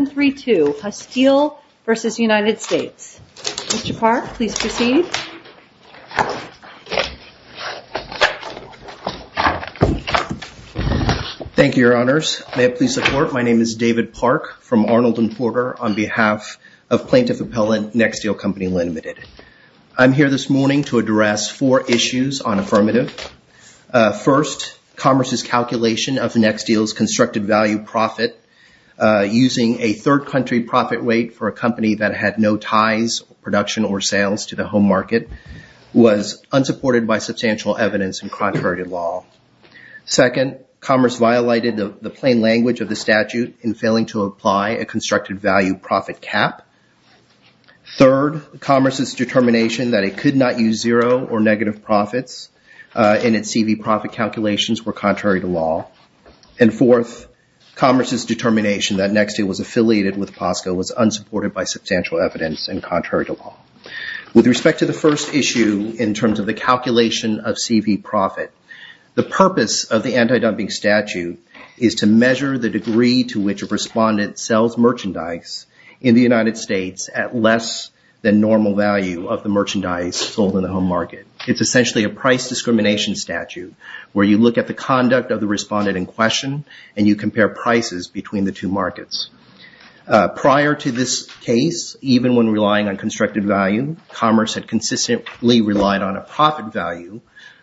1-3-2, Husteel v. United States. Mr. Park, please proceed. Thank you, Your Honors. May it please support, my name is David Park from Arnold and Porter on behalf of Plaintiff Appellant, Nexteel Co., Ltd. I'm here this morning to address four issues on affirmative. First, Commerce's calculation of Nexteel's constructed value profit using a third country profit rate for a company that had no ties, production or sales to the home market was unsupported by substantial evidence and contrary to law. Second, Commerce violated the plain language of the statute in failing to apply a constructed value profit cap. Third, Commerce's determination that it could not use zero or negative profits in its CV profit calculations were contrary to law. And fourth, Commerce's determination that Nexteel was affiliated with POSCO was unsupported by substantial evidence and contrary to law. With respect to the first issue in terms of the calculation of CV profit, the purpose of the anti-dumping statute is to measure the degree to which a respondent sells merchandise in the United States at less than normal value of the merchandise sold in the home market. It's essentially a price discrimination statute where you look at the conduct of the respondent in question and you compare prices between the two markets. Prior to this case, even when relying on constructed value, Commerce had consistently relied on a profit value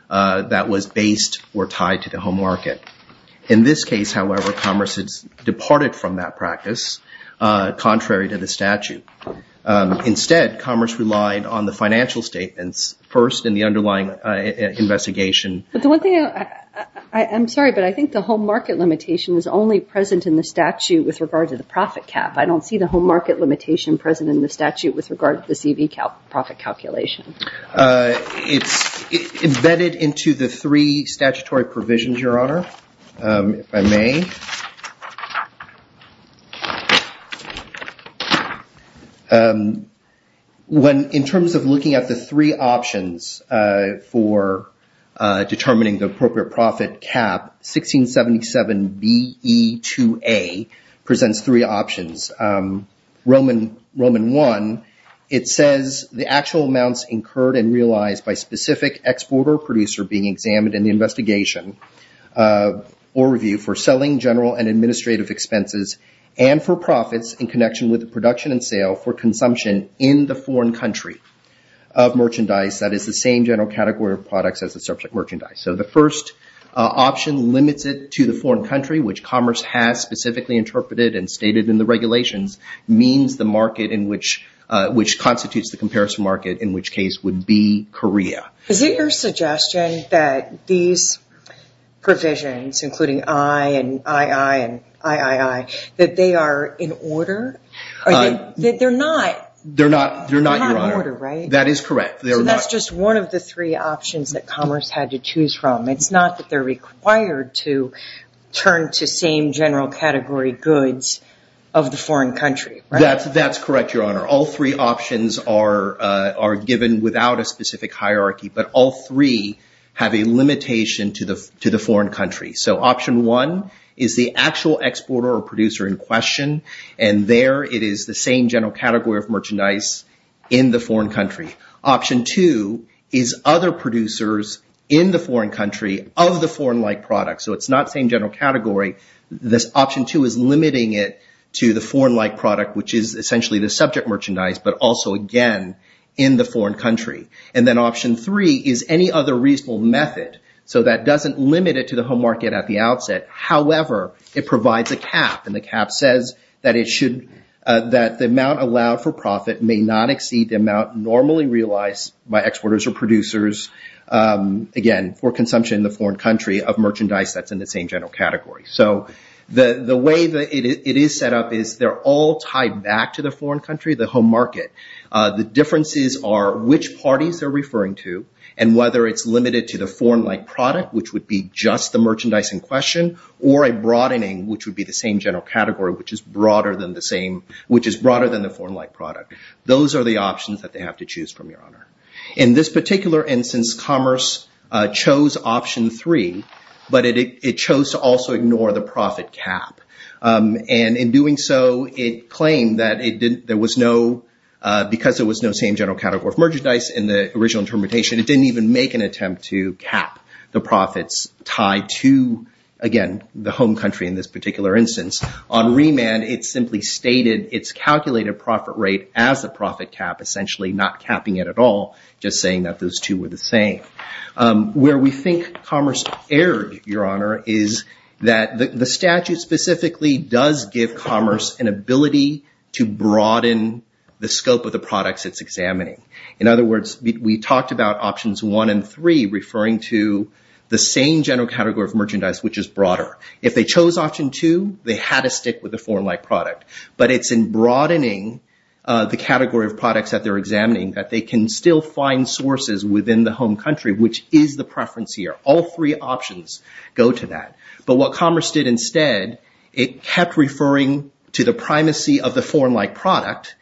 that was based or tied to the home market. In this case, however, Commerce had departed from that practice contrary to the statute. Instead, Commerce relied on the financial statements first in the underlying investigation. I'm sorry, but I think the home market limitation is only present in the statute with regard to the profit cap. I don't see the home market limitation present in the statute with regard to the CV profit calculation. It's embedded into the three statutory provisions, Your Honor, if I may. In terms of looking at the three options for determining the appropriate profit cap, 1677BE2A presents three options. Roman 1, it says the actual amounts incurred and realized by specific exporter or producer being examined in the investigation or review for selling general and administrative expenses and for profits in connection with the production and sale for consumption in the foreign country of merchandise that is the same general category of products as the subject merchandise. The first option limits it to the foreign country, which Commerce has specifically interpreted and stated in the regulations, means the market in which constitutes the comparison market in which case would be Korea. Is it your suggestion that these provisions, including I and II and III, that they are in order? They're not in order, right? That is correct. That's just one of the three options that Commerce had to choose from. It's not that they're required to turn to same general category goods of the foreign country, right? That's correct, Your Honor. All three options are given without a specific hierarchy, but all three have a limitation to the foreign country. Option 1 is the actual exporter or producer in question, and there it is the same general category of merchandise in the foreign country. Option 2 is other producers in the foreign country of the foreign-like products, so it's limiting it to the foreign-like product, which is essentially the subject merchandise, but also again in the foreign country. Then option 3 is any other reasonable method, so that doesn't limit it to the home market at the outset. However, it provides a cap. The cap says that the amount allowed for profit may not exceed the amount normally realized by exporters or producers, again, for consumption in the foreign country of merchandise that's in the same general category. The way that it is set up is they're all tied back to the foreign country, the home market. The differences are which parties they're referring to and whether it's limited to the foreign-like product, which would be just the merchandise in question, or a broadening, which would be the same general category, which is broader than the foreign-like product. Those are the options that they have to choose from, Your Honor. In this particular instance, Commerce chose option 3, but it chose to also ignore the profit cap. In doing so, it claimed that because there was no same general category of merchandise in the original interpretation, it didn't even make an attempt to cap the profits tied to, again, the home country in this particular instance. On remand, it simply stated its calculated profit rate as a profit cap, essentially not capping it at all, just saying that those two were the same. Where we think Commerce erred, Your Honor, is that the statute specifically does give Commerce an ability to broaden the scope of the products it's examining. In other words, we talked about options 1 and 3 referring to the same general category of merchandise, which is broader. If they chose option 2, they had to stick with the foreign-like product. But it's in broadening the category of products that they're examining that they can still find sources within the home country, which is the preference here. All three options go to that. But what Commerce did instead, it kept referring to the primacy of the foreign-like product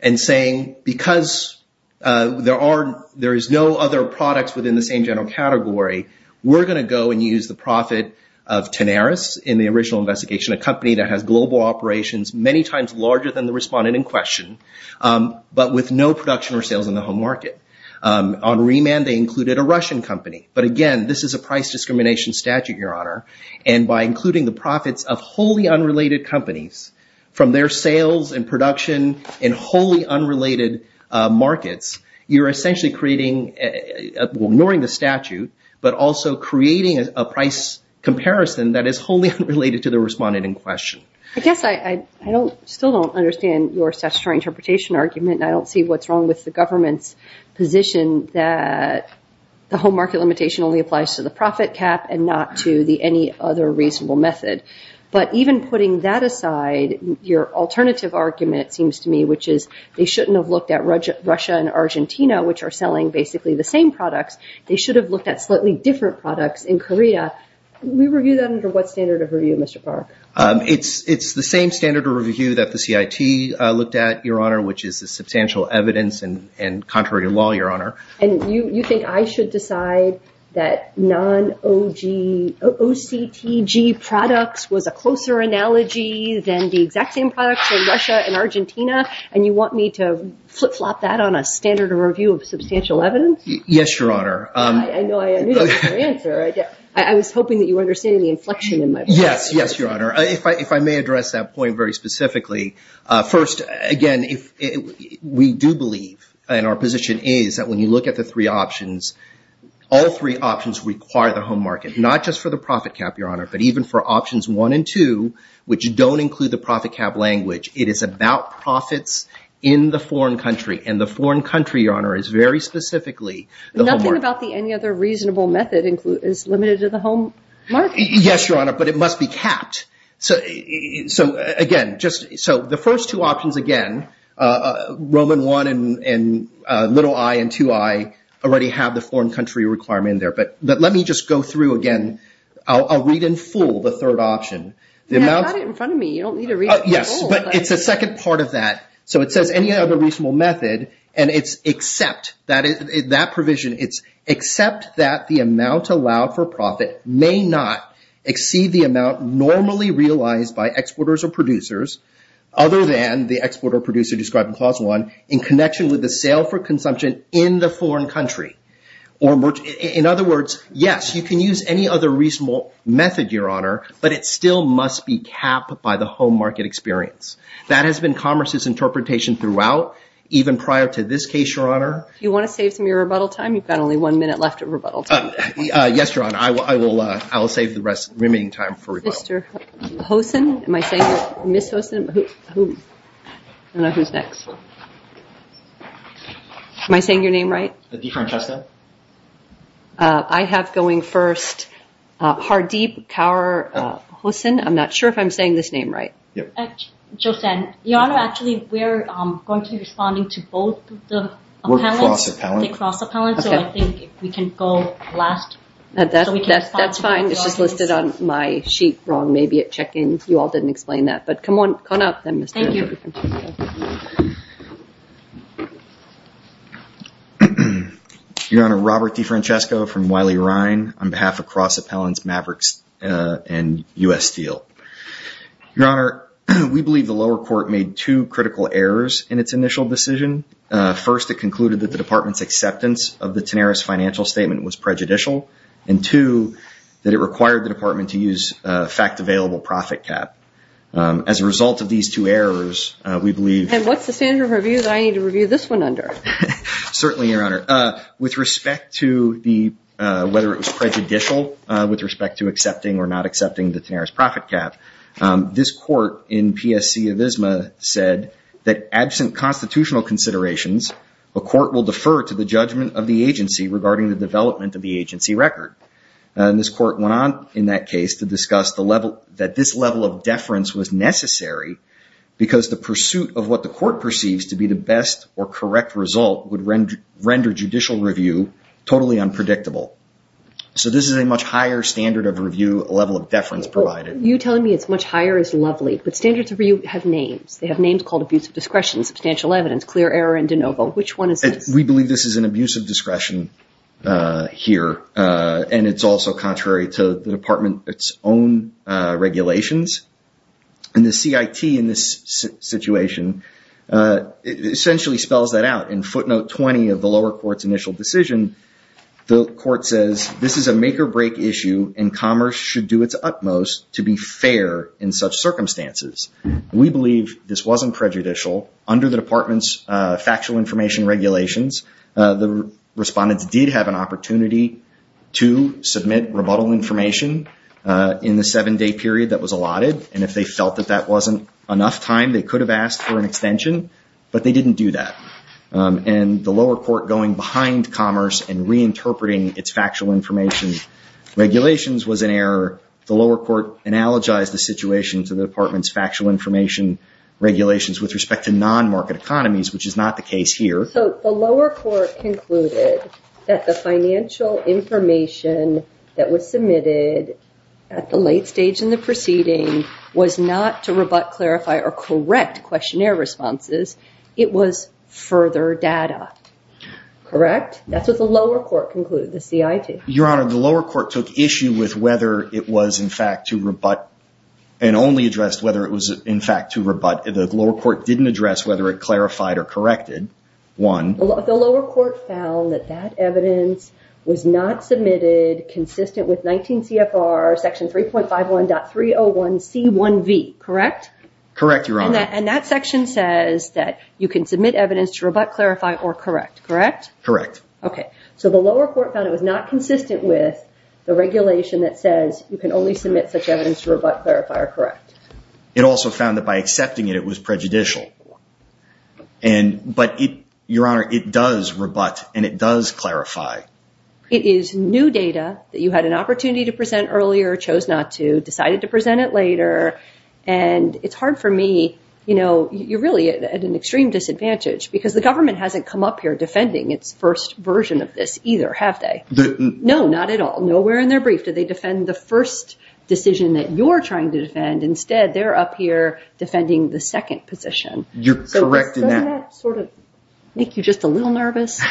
and saying, because there is no other products within the same general category, we're going to go and use the profit of Tenaris in the original investigation, a company that has global operations many times larger than the respondent in question, but with no production or sales in the home market. On remand, they included a Russian company. But again, this is a price discrimination statute, Your Honor. And by including the profits of wholly unrelated companies from their sales and production in wholly unrelated markets, you're essentially ignoring the statute, but also creating a price comparison that is wholly unrelated to the respondent in question. I guess I still don't understand your statutory interpretation argument, and I don't see what's wrong with the government's position that the home market limitation only applies to the profit cap and not to any other reasonable method. But even putting that aside, your alternative argument, it seems to me, which is they shouldn't have looked at Russia and Argentina, which are selling basically the same products. They should have looked at slightly different products in Corita. We review that under what standard of review, Mr. Park? It's the same standard of review that the CIT looked at, Your Honor, which is the substantial evidence and contrary law, Your Honor. And you think I should decide that non-OCTG products was a closer analogy than the exact same products in Russia and Argentina, and you want me to flip-flop that on a standard of review of substantial evidence? Yes, Your Honor. I knew that was your answer. I was hoping that you were understanding the inflection in my point. Yes, Your Honor. If I may address that point very specifically, first, again, we do believe, and our position is, that when you look at the three options, all three options require the home market, not just for the profit cap, Your Honor, but even for options one and two, which don't include the profit cap language. It is about profits in the foreign country, and the foreign country, Your Honor, is very specifically the home market. Nothing about the any other reasonable method is limited to the home market. Yes, Your Honor, but it must be capped. So, again, the first two options, again, Roman 1 and little i and 2i already have the foreign country requirement in there, but let me just go through again. I'll read in full the third option. Yeah, I've got it in front of me. Yes, but it's a second part of that. So, it says any other reasonable method, and it's except that provision. It's except that the amount allowed for profit may not exceed the amount normally realized by exporters or producers, other than the exporter producer described in clause one, in connection with the sale for consumption in the foreign country. In other words, yes, you can use any other reasonable method, Your Honor, but it still must be capped by the home market experience. That has been commerce's interpretation throughout, even prior to this case, Your Honor. You want to save some of your rebuttal time? You've got only one minute left of rebuttal time. Yes, Your Honor, I will save the remaining time for rebuttal. Mr. Hoson, am I saying, Ms. Hoson? I don't know who's next. Am I saying your name right? DeFrancisco? I have going first, Hardeeb Kaur Hoson. I'm not sure if I'm saying this name right. Yeah. Josanne, Your Honor, actually, we're going to be responding to both the appellants. We're cross-appellant. They cross-appellant, so I think if we can go last. That's fine. It's just listed on my sheet wrong. Maybe at check-in, you all didn't explain that, but come on up then, Mr. DeFrancisco. Your Honor, Robert DeFrancisco from Wiley Rhyne on behalf of cross-appellants Mavericks and U.S. Steel. Your Honor, we believe the lower court made two critical errors in its initial decision. First, it concluded that the department's acceptance of the Tanaris financial statement was prejudicial, and two, that it required the department to use a fact-available profit cap. As a result of these two errors, we believe... And what's the standard of review that I need to review this one under? Certainly, Your Honor. With respect to whether it was prejudicial, with respect to accepting or not accepting the Tanaris profit cap, this court in PSC Avisma said that absent constitutional considerations, a court will defer to the judgment of the agency regarding the development of the agency record. This court went on in that case to discuss that this level of deference was necessary because the pursuit of what the court perceives to be the best or correct result would render judicial review totally unpredictable. So this is a much higher standard of review, a level of deference provided. You're telling me it's much higher is lovely, but standards of review have names. They have names called abuse of discretion, substantial evidence, clear error, and de novo. Which one is this? We believe this is an abuse of discretion here, and it's also contrary to the department, its own regulations. And the CIT in this situation essentially spells that out. In footnote 20 of the lower court's initial decision, the court says, this is a make or break issue and commerce should do its utmost to be fair in such circumstances. We believe this wasn't prejudicial. Under the department's factual information regulations, the respondents did have an opportunity to submit rebuttal information in the seven-day period that was allotted. And if they felt that that wasn't enough time, they could have asked for an extension, but they didn't do that. And the lower court going behind commerce and reinterpreting its factual information regulations was an error. The lower court analogized the situation to the department's factual information regulations with respect to non-market economies, which is not the case here. So the lower court concluded that the financial information that was submitted at the late stage in the proceeding was not to rebut, clarify, or correct questionnaire responses. It was further data. Correct? That's what the lower court concluded, the CIT. Your Honor, the lower court took issue with whether it was, in fact, to rebut and only addressed whether it was, in fact, to rebut. The lower court didn't address whether it clarified or corrected, one. The lower court found that that evidence was not submitted consistent with 19 CFR section 3.51.301C1V. Correct? Correct, Your Honor. And that section says that you can submit evidence to rebut, clarify, or correct. Correct? Correct. Okay. So the lower court found it was not consistent with the regulation that says you can only submit such evidence to rebut, clarify, or correct. It also found that by accepting it, it was prejudicial. But Your Honor, it does rebut and it does clarify. It is new data that you had an opportunity to present earlier, chose not to, decided to present it later. And it's hard for me, you know, you're really at an extreme disadvantage because the government hasn't come up here defending its first version of this either, have they? No, not at all. Nowhere in their brief do they defend the first decision that you're trying to defend. Instead, they're up here defending the second position. You're correct in that. Doesn't that sort of make you just a little nervous?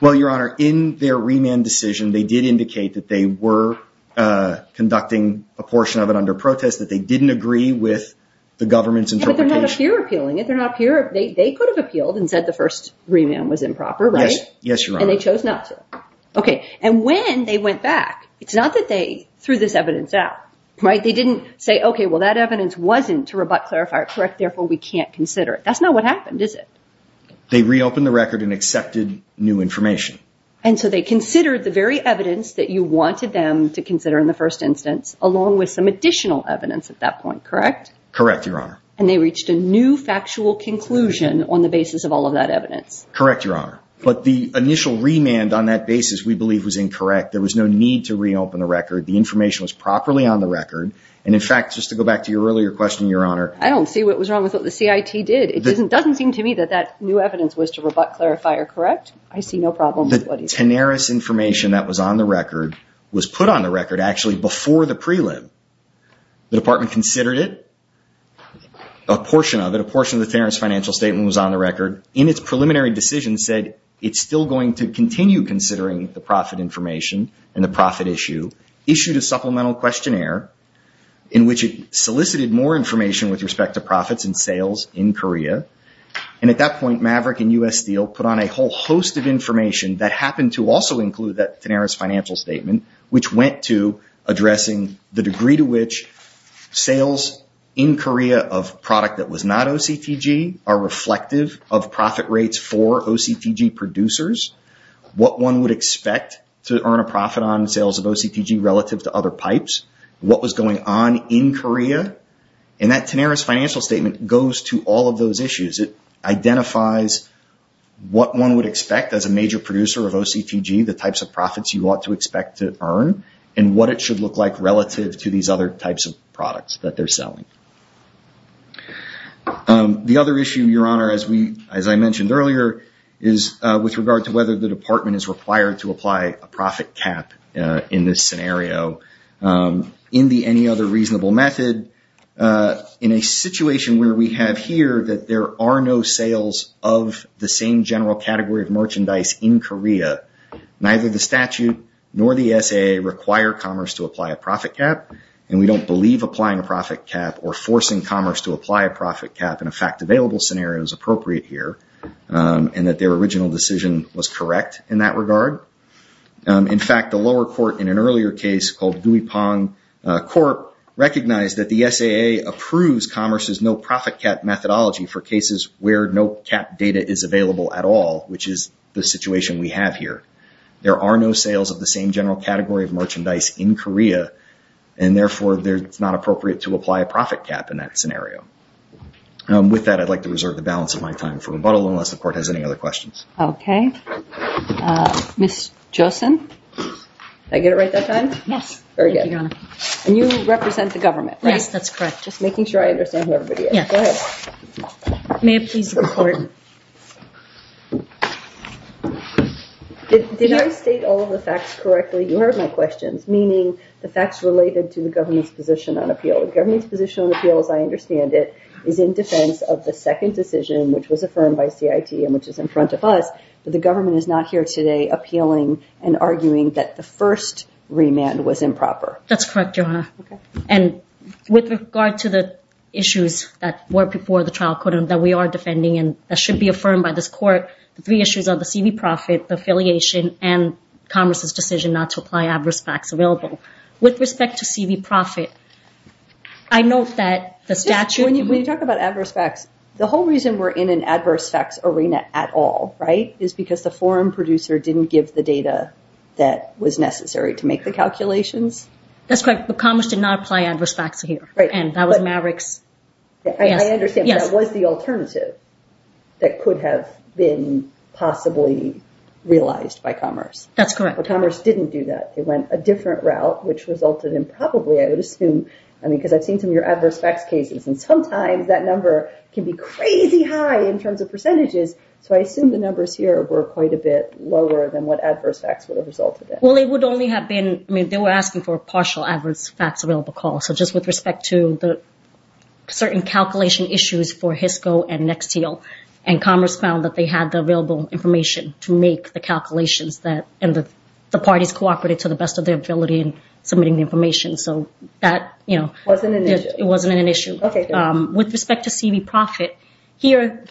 Well, Your Honor, in their remand decision, they did indicate that they were conducting a portion of it under protest, that they didn't agree with the government's interpretation. Yeah, but they're not up here appealing it. They're not up here. They could have appealed and said the first remand was improper, right? Yes, Your Honor. And they chose not to. Okay. And when they went back, it's not that they threw this evidence out, right? They didn't say, okay, well, that evidence wasn't to rebut, clarify, correct, therefore we can't consider it. That's not what happened, is it? They reopened the record and accepted new information. And so they considered the very evidence that you wanted them to consider in the first instance, along with some additional evidence at that point, correct? Correct, Your Honor. Correct, Your Honor. But the initial remand on that basis, we believe was incorrect. There was no need to reopen the record. The information was properly on the record. And in fact, just to go back to your earlier question, Your Honor. I don't see what was wrong with what the CIT did. It doesn't seem to me that that new evidence was to rebut, clarify, or correct. I see no problem with what he said. Tenaris information that was on the record was put on the record actually before the prelim. The department considered it. A portion of it, a portion of the Tenaris financial statement was on the record. In its preliminary decision said it's still going to continue considering the profit information and the profit issue. Issued a supplemental questionnaire in which it solicited more information with respect to profits and sales in Korea. And at that point, Maverick and U.S. Steel put on a whole host of information that happened to also include that Tenaris financial statement, which went to addressing the degree to which sales in Korea of product that was not OCTG are reflective of profit rates for OCTG producers, what one would expect to earn a profit on sales of OCTG relative to other pipes, what was going on in Korea. And that Tenaris financial statement goes to all of those issues. It identifies what one would expect as a major producer of OCTG, the types of profits you to expect to earn and what it should look like relative to these other types of products that they're selling. The other issue, Your Honor, as I mentioned earlier, is with regard to whether the department is required to apply a profit cap in this scenario in the any other reasonable method. In a situation where we have here that there are no sales of the same general category of nor the SAA require commerce to apply a profit cap. And we don't believe applying a profit cap or forcing commerce to apply a profit cap in a fact available scenario is appropriate here and that their original decision was correct in that regard. In fact, the lower court in an earlier case called Guipang Court recognized that the SAA approves commerce is no profit cap methodology for cases where no data is available at all, which is the situation we have here. There are no sales of the same general category of merchandise in Korea and therefore it's not appropriate to apply a profit cap in that scenario. With that, I'd like to reserve the balance of my time for rebuttal unless the court has any other questions. Okay. Ms. Josin, did I get it right that time? Yes. Very good. And you represent the government, right? Yes, that's correct. Just making sure I understand who everybody is. Go ahead. May I please report? Did I state all of the facts correctly? You heard my questions, meaning the facts related to the government's position on appeal. The government's position on appeal, as I understand it, is in defense of the second decision, which was affirmed by CIT and which is in front of us, but the government is not here today appealing and arguing that the first remand was improper. That's correct, Your Honor. Okay. And with regard to the issues that were before the trial court that we are defending and that should be affirmed by this court, the three issues are the CV profit, the affiliation, and Congress's decision not to apply adverse facts available. With respect to CV profit, I note that the statute- When you talk about adverse facts, the whole reason we're in an adverse facts arena at all, right, is because the forum producer didn't give the data that was necessary to make the calculations? That's correct, but Congress did not apply adverse facts here, and that was Mavericks. I understand, but that was the alternative that could have been possibly realized by Congress. That's correct. But Congress didn't do that. They went a different route, which resulted in probably, I would assume, I mean, because I've seen some of your adverse facts cases, and sometimes that number can be crazy high in terms of percentages, so I assume the numbers here were quite a bit lower than what adverse facts would have resulted in. Well, they would only have been, I mean, they were asking for a partial adverse facts available call, so just with respect to the certain calculation issues for HISCO and Nexteal, and Congress found that they had the available information to make the calculations, and the parties cooperated to the best of their ability in submitting the information, so that- It wasn't an issue. It wasn't an issue. With respect to CV profit, here,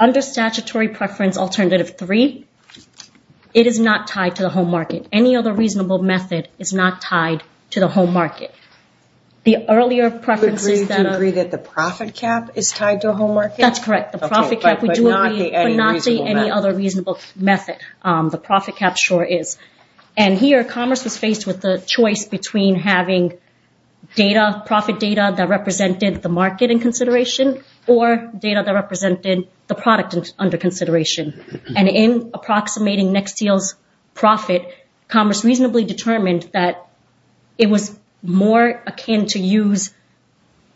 under statutory preference alternative three, it is not tied to the home market. Any other reasonable method is not tied to the home market. The earlier preferences that are- You agree that the profit cap is tied to a home market? That's correct. The profit cap- Okay, but not the any reasonable method. But not the any other reasonable method. The profit cap sure is. And here, Congress was faced with the choice between having data, profit data that represented the market in consideration, or data that represented the product under consideration. And in approximating Nexteal's profit, Congress reasonably determined that it was more akin to use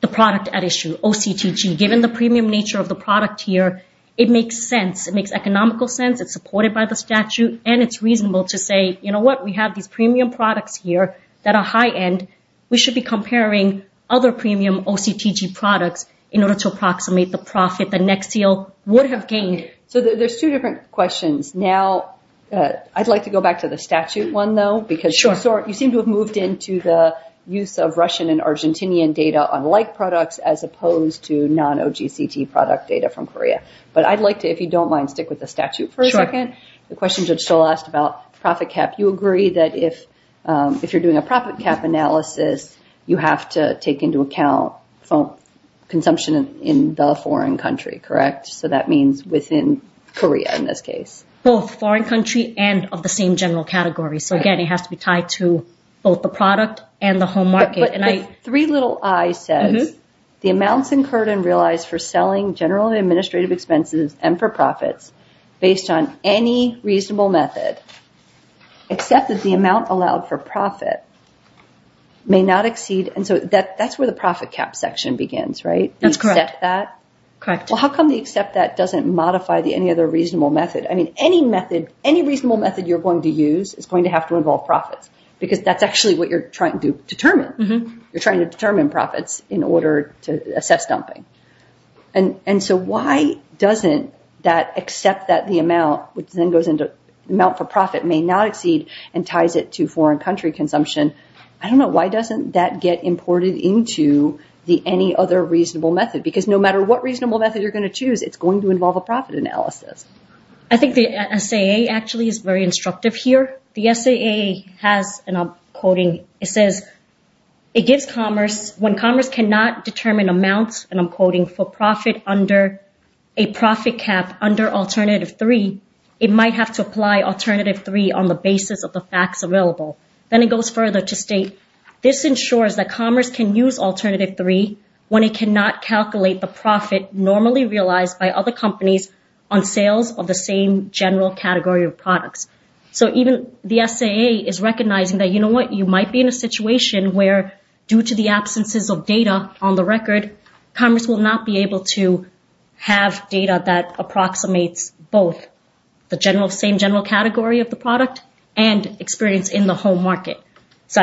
the product at issue, OCTG. Given the premium nature of the product here, it makes sense. It makes economical sense. It's supported by the statute, and it's reasonable to say, you know what? We have these premium products here that are high-end. We should be comparing other premium OCTG products in order to approximate the profit that Nexteal would have gained. So there's two different questions. Now, I'd like to go back to the statute one, though, because you seem to have moved into the use of Russian and Argentinian data on like products, as opposed to non-OGCT product data from Korea. But I'd like to, if you don't mind, stick with the statute for a second. Sure. The question Judge Stoll asked about profit cap, you agree that if you're doing a profit cap analysis, you have to take into account consumption in the foreign country, correct? So that means within Korea, in this case. Both foreign country and of the same general category. So again, it has to be tied to both the product and the home market. But the three little I says, the amounts incurred and realized for selling general administrative expenses and for profits based on any reasonable method, except that the amount allowed for profit may not exceed. And so that's where the profit cap section begins, right? That's correct. You accept that? Correct. How come they accept that doesn't modify the any other reasonable method? I mean, any method, any reasonable method you're going to use is going to have to involve profits, because that's actually what you're trying to determine. You're trying to determine profits in order to assess dumping. And so why doesn't that except that the amount, which then goes into amount for profit may not exceed and ties it to foreign country consumption. I don't know. Why doesn't that get imported into the any other reasonable method? Because no matter what reasonable method you're going to choose, it's going to involve a profit analysis. I think the SAA actually is very instructive here. The SAA has, and I'm quoting, it says, it gives commerce when commerce cannot determine amounts, and I'm quoting for profit under a profit cap under alternative three, it might have to apply alternative three on the basis of the facts available. Then it goes further to state, this ensures that commerce can use alternative three when it cannot calculate the profit normally realized by other companies on sales of the same general category of products. So even the SAA is recognizing that, you know what, you might be in a situation where due to the absences of data on the record, commerce will not be able to have data that approximates both the same general category of the product and experience in the home market. So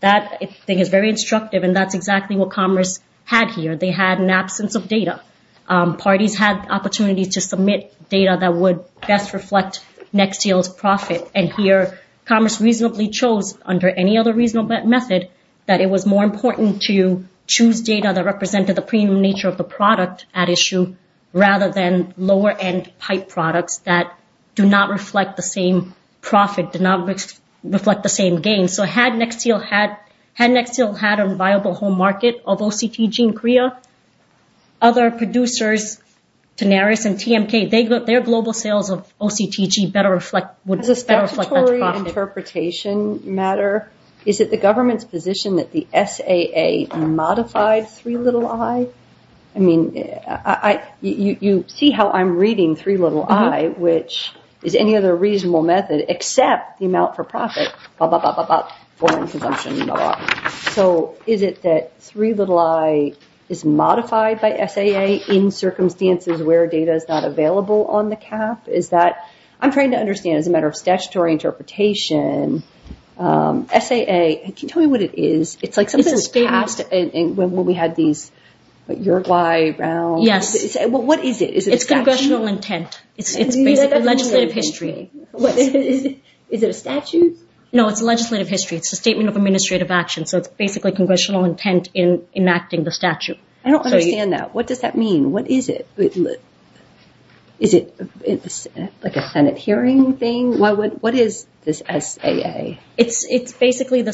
that thing is very instructive, and that's exactly what commerce had here. They had an absence of data. Parties had opportunities to submit data that would best reflect Nexteel's profit, and here commerce reasonably chose under any other reasonable method that it was more important to choose data that represented the premium nature of the product at issue rather than lower end pipe products that do not reflect the same profit, do not reflect the same gain. So had Nexteel had a viable home market of OCTG in Korea, other producers, Tenaris and TMK, their global sales of OCTG would better reflect that profit. As a statutory interpretation matter, is it the government's position that the is any other reasonable method except the amount for profit? So is it that 3i is modified by SAA in circumstances where data is not available on the cap? I'm trying to understand as a matter of statutory interpretation, SAA, can you tell me what it is? It's like something past when we had Uruguay, Brown. What is it? It's congressional intent. It's basically legislative history. Is it a statute? No, it's legislative history. It's a statement of administrative action. So it's basically congressional intent in enacting the statute. I don't understand that. What does that mean? What is it? Is it like a Senate hearing thing? What is this SAA? It's basically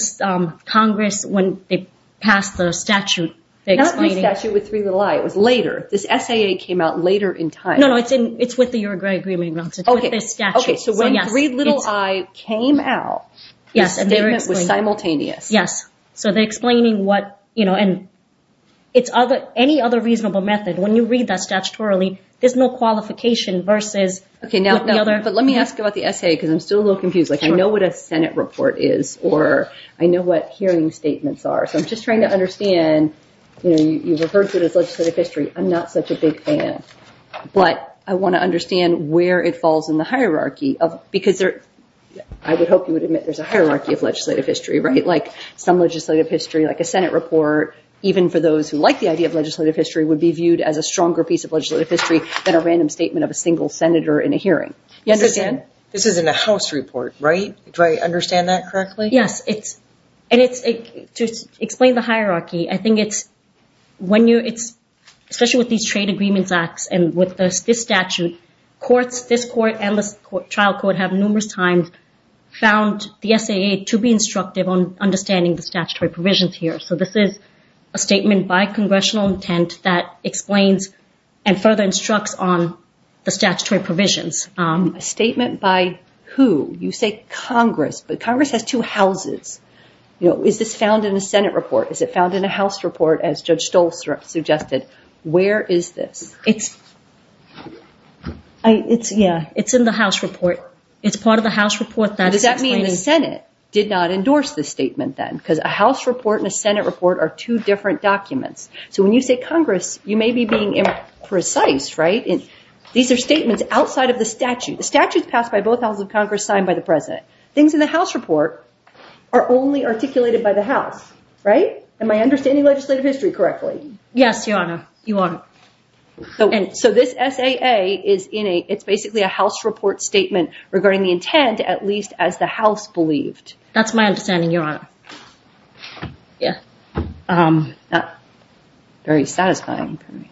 Congress when they passed the statute. Not the statute with 3i. It was later. This SAA came out later in time. No, no. It's with the Uruguay agreement. Okay. So when 3i came out, the statement was simultaneous. Yes. So they're explaining what, you know, and it's other, any other reasonable method. When you read that statutorily, there's no qualification versus. Okay. But let me ask about the SAA because I'm still a little confused. Like I know what a Senate report is, or I know what hearing statements are. So I'm just trying to understand, you know, you've referred to it as legislative history. I'm not such a big fan, but I want to understand where it falls in the hierarchy of, because there, I would hope you would admit there's a hierarchy of legislative history, right? Like some legislative history, like a Senate report, even for those who like the idea of legislative history would be viewed as a stronger piece of legislative history than a random statement of a single Senator in a hearing. You understand? This isn't a House report, right? Do I understand that correctly? Yes. It's, and it's, to explain the hierarchy, I think it's, when you, it's, especially with these trade agreements acts and with this statute, courts, this court and this trial court have numerous times found the SAA to be instructive on understanding the statutory provisions here. So this is a statement by congressional intent that explains and further instructs on the statutory provisions. A statement by who? You say Congress, but Congress has two houses. You know, is this found in a Senate report? Is it found in a House report as Judge Stolz suggested? Where is this? It's, I, it's, yeah, it's in the House report. It's part of the House report. Does that mean the Senate did not endorse this statement then? Because a House report and a Senate report are two different documents. So when you say Congress, you may be being imprecise, right? And these are statements outside of the statute. The statute is passed by both houses of Congress, signed by the president. Things in the House report are only articulated by the House, right? Am I understanding legislative history correctly? Yes, Your Honor. You are. So this SAA is in a, it's basically a House report statement regarding the intent, at least as the House believed. That's my understanding, Your Honor. Yeah. Yeah. Very satisfying for me.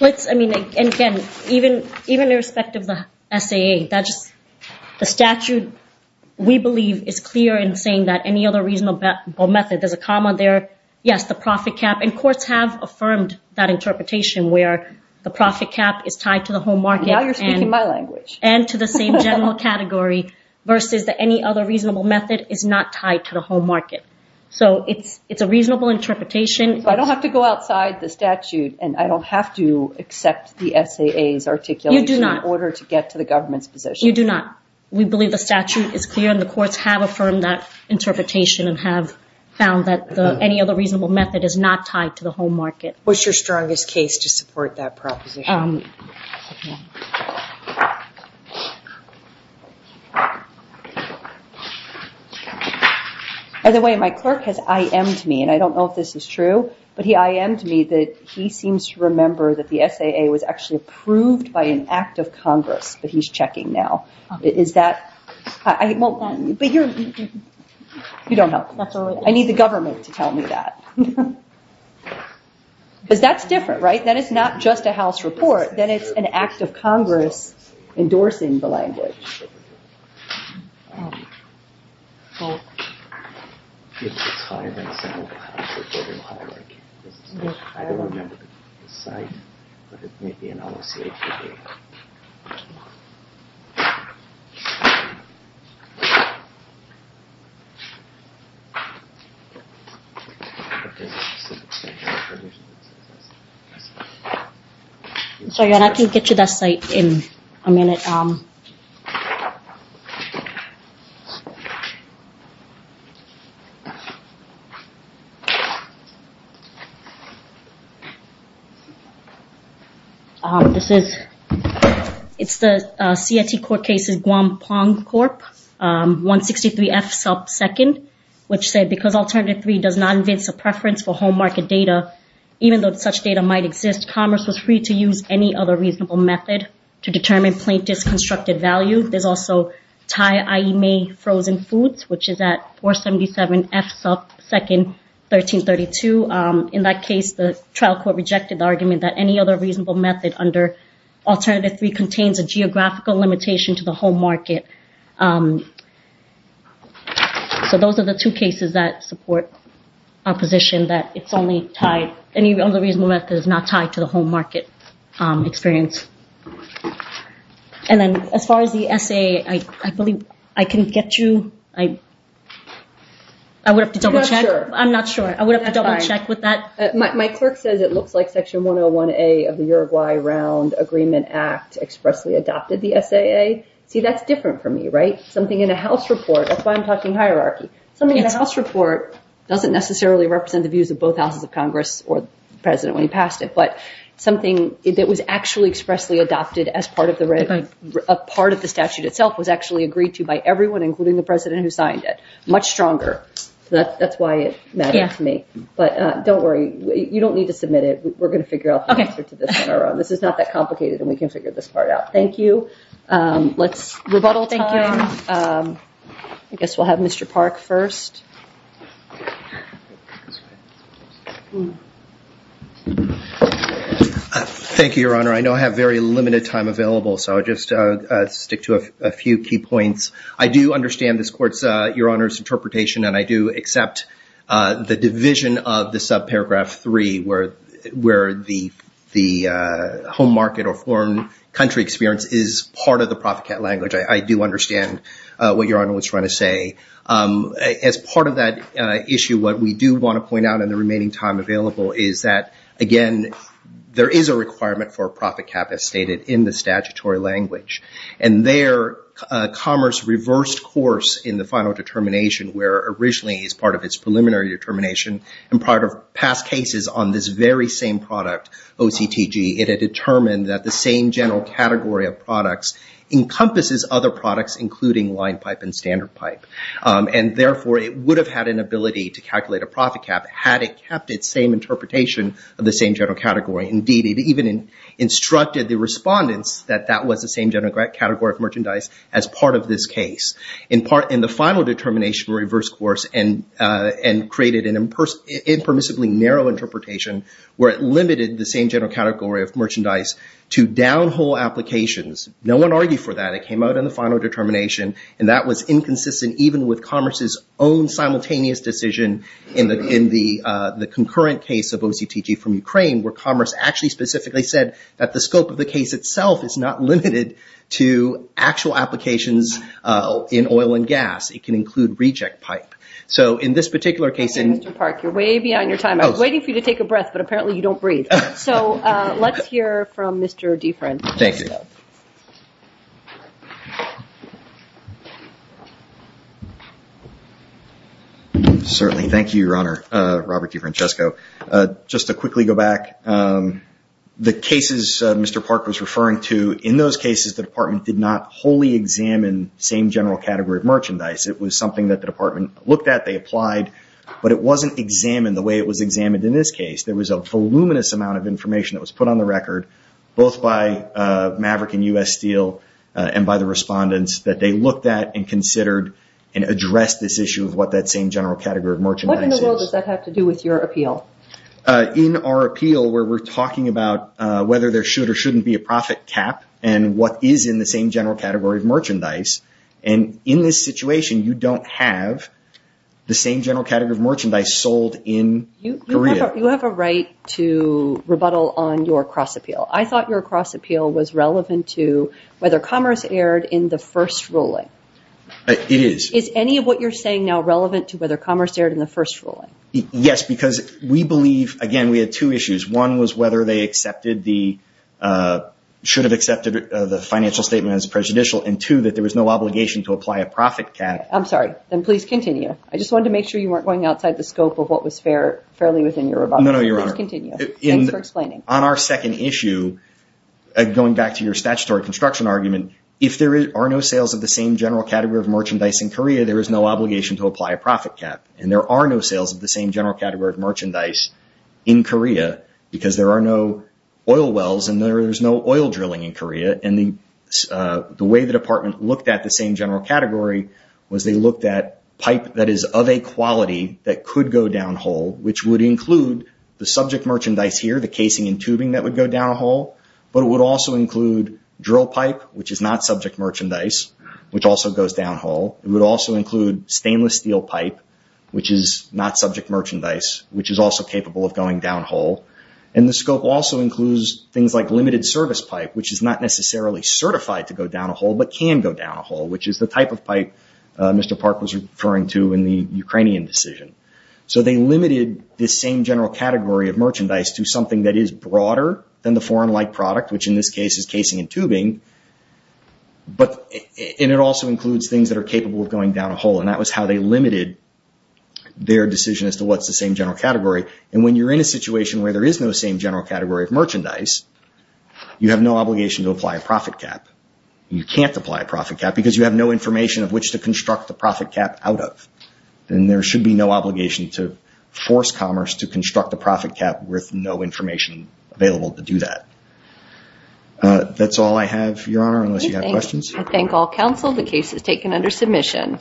Let's, I mean, again, even, even irrespective of the SAA, that just, the statute, we believe is clear in saying that any other reasonable method, there's a comma there, yes, the profit cap, and courts have affirmed that interpretation where the profit cap is tied to the home market. Now you're speaking my language. And to the same category versus that any other reasonable method is not tied to the home market. So it's, it's a reasonable interpretation. So I don't have to go outside the statute and I don't have to accept the SAA's articulation in order to get to the government's position. You do not. We believe the statute is clear and the courts have affirmed that interpretation and have found that any other reasonable method is not tied to the home market. What's your strongest case to support that interpretation? By the way, my clerk has IM'd me, and I don't know if this is true, but he IM'd me that he seems to remember that the SAA was actually approved by an act of Congress, but he's checking now. Is that, I won't, but you're, you don't help. I need the government to tell me that. Because that's different, right? Then it's not just a House report, then it's an act of Congress endorsing the language. So you're not going to get to that site in a minute. This is, it's the CIT court cases, Guam Pong Corp, 163 F sub second, which said because alternative three does not advance a preference for home market data, even though such data might exist, commerce was free to use any other reasonable method to determine plaintiffs constructed value. There's also Thai IE May frozen foods, which is at 477 F sub second, 1332. In that case, the trial court rejected the argument that any other reasonable method under alternative three contains a geographical limitation to the home market. So those are the two cases that support our position that it's only tied, any other reasonable method is not tied to the home market experience. And then as far as the essay, I believe I can get you, I, I would have to double check. I'm not sure. I would have to double check with that. My clerk says it looks like section 101A of the Uruguay round agreement act expressly adopted the SAA. See, that's different for me, right? Something in a house report. That's why I'm talking hierarchy. Something in a house report doesn't necessarily represent the views of both houses of Congress or the president when he passed it, but something that was actually expressly adopted as part of the red, a part of the statute itself was actually agreed to by everyone, including the president who signed it much stronger. So that that's why it meant to me, but don't worry. You don't need to submit it. We're going to figure out the answer to this on our own. This is not that complicated and we can figure this part out. Thank you. Um, let's rebuttal. Thank you. Um, I guess we'll have Mr. Park first. Thank you, Your Honor. I know I have very limited time available, so I'll just, uh, stick to a few key points. I do understand this court's, uh, Your Honor's interpretation and I do accept, uh, the division of the sub paragraph three where, where the, the, uh, home market or foreign country experience is part of the proficat language. I, I do understand, uh, what Your Honor was trying to say. Um, as part of that, uh, issue, what we do want to point out in the remaining time available is that again, there is a requirement for a profit cap as stated in the statutory language and there, uh, commerce reversed course in the final determination where originally as part of its preliminary determination and part of past cases on this very same product, OCTG, it had determined that the same general category of products including line pipe and standard pipe. Um, and therefore it would have had an ability to calculate a profit cap had it kept its same interpretation of the same general category. Indeed, it even instructed the respondents that that was the same general category of merchandise as part of this case. In part, in the final determination reverse course and, uh, and created an imper, impermissibly narrow interpretation where it limited the same general category of merchandise to downhole applications. No one argued for that. It came out in the final determination and that was inconsistent even with commerce's own simultaneous decision in the, in the, uh, the concurrent case of OCTG from Ukraine where commerce actually specifically said that the scope of the case itself is not limited to actual applications, uh, in oil and gas. It can include reject pipe. So in this particular case- Okay, Mr. Park, you're way beyond your time. I was waiting for you to take a breath, but apparently you don't breathe. So, uh, let's hear from Mr. DeFrent. Thank you. Certainly. Thank you, Your Honor, uh, Robert DeFrancesco. Uh, just to quickly go back, um, the cases, uh, Mr. Park was referring to, in those cases, the department did not wholly examine same general category of merchandise. It was something that the department looked at, they applied, but it wasn't examined the way it was examined in this case. There was a voluminous amount of information that was put on the record both by, uh, Maverick and U.S. Steel, uh, and by the respondents that they looked at and considered and addressed this issue of what that same general category of merchandise is. What in the world does that have to do with your appeal? Uh, in our appeal where we're talking about, uh, whether there should or shouldn't be a profit cap and what is in the same general category of merchandise. And in this situation, you don't have the same general category of merchandise sold in Korea. You have a right to rebuttal on your cross appeal. I thought your cross appeal was relevant to whether commerce erred in the first ruling. It is. Is any of what you're saying now relevant to whether commerce erred in the first ruling? Yes, because we believe, again, we had two issues. One was whether they accepted the, uh, should have accepted the financial statement as prejudicial. And two, that there was no obligation to apply a profit cap. I'm sorry. Then please continue. I just wanted to make sure you weren't going outside the scope of what was fair, fairly within your rebuttal. No, no, Your Honor. Please continue. Thanks for explaining. On our second issue, going back to your statutory construction argument, if there are no sales of the same general category of merchandise in Korea, there is no obligation to apply a profit cap. And there are no sales of the same general category of merchandise in Korea because there are no oil wells and there is no oil drilling in Korea. And the, uh, the way the department looked at the same general category was they looked at that is of a quality that could go down hole, which would include the subject merchandise here, the casing and tubing that would go down a hole. But it would also include drill pipe, which is not subject merchandise, which also goes down hole. It would also include stainless steel pipe, which is not subject merchandise, which is also capable of going down hole. And the scope also includes things like limited service pipe, which is not necessarily certified to go down a hole, but can go down a hole, which is the type of pipe, uh, Mr. Park was referring to in the Ukrainian decision. So they limited the same general category of merchandise to something that is broader than the foreign light product, which in this case is casing and tubing. But it also includes things that are capable of going down a hole. And that was how they limited their decision as to what's the same general category. And when you're in a situation where there is no same general category of merchandise, you have no obligation to apply a profit cap. You can't apply a profit cap because you have information of which to construct the profit cap out of. Then there should be no obligation to force commerce to construct a profit cap with no information available to do that. That's all I have, Your Honor, unless you have questions. I thank all counsel. The case is taken under submission.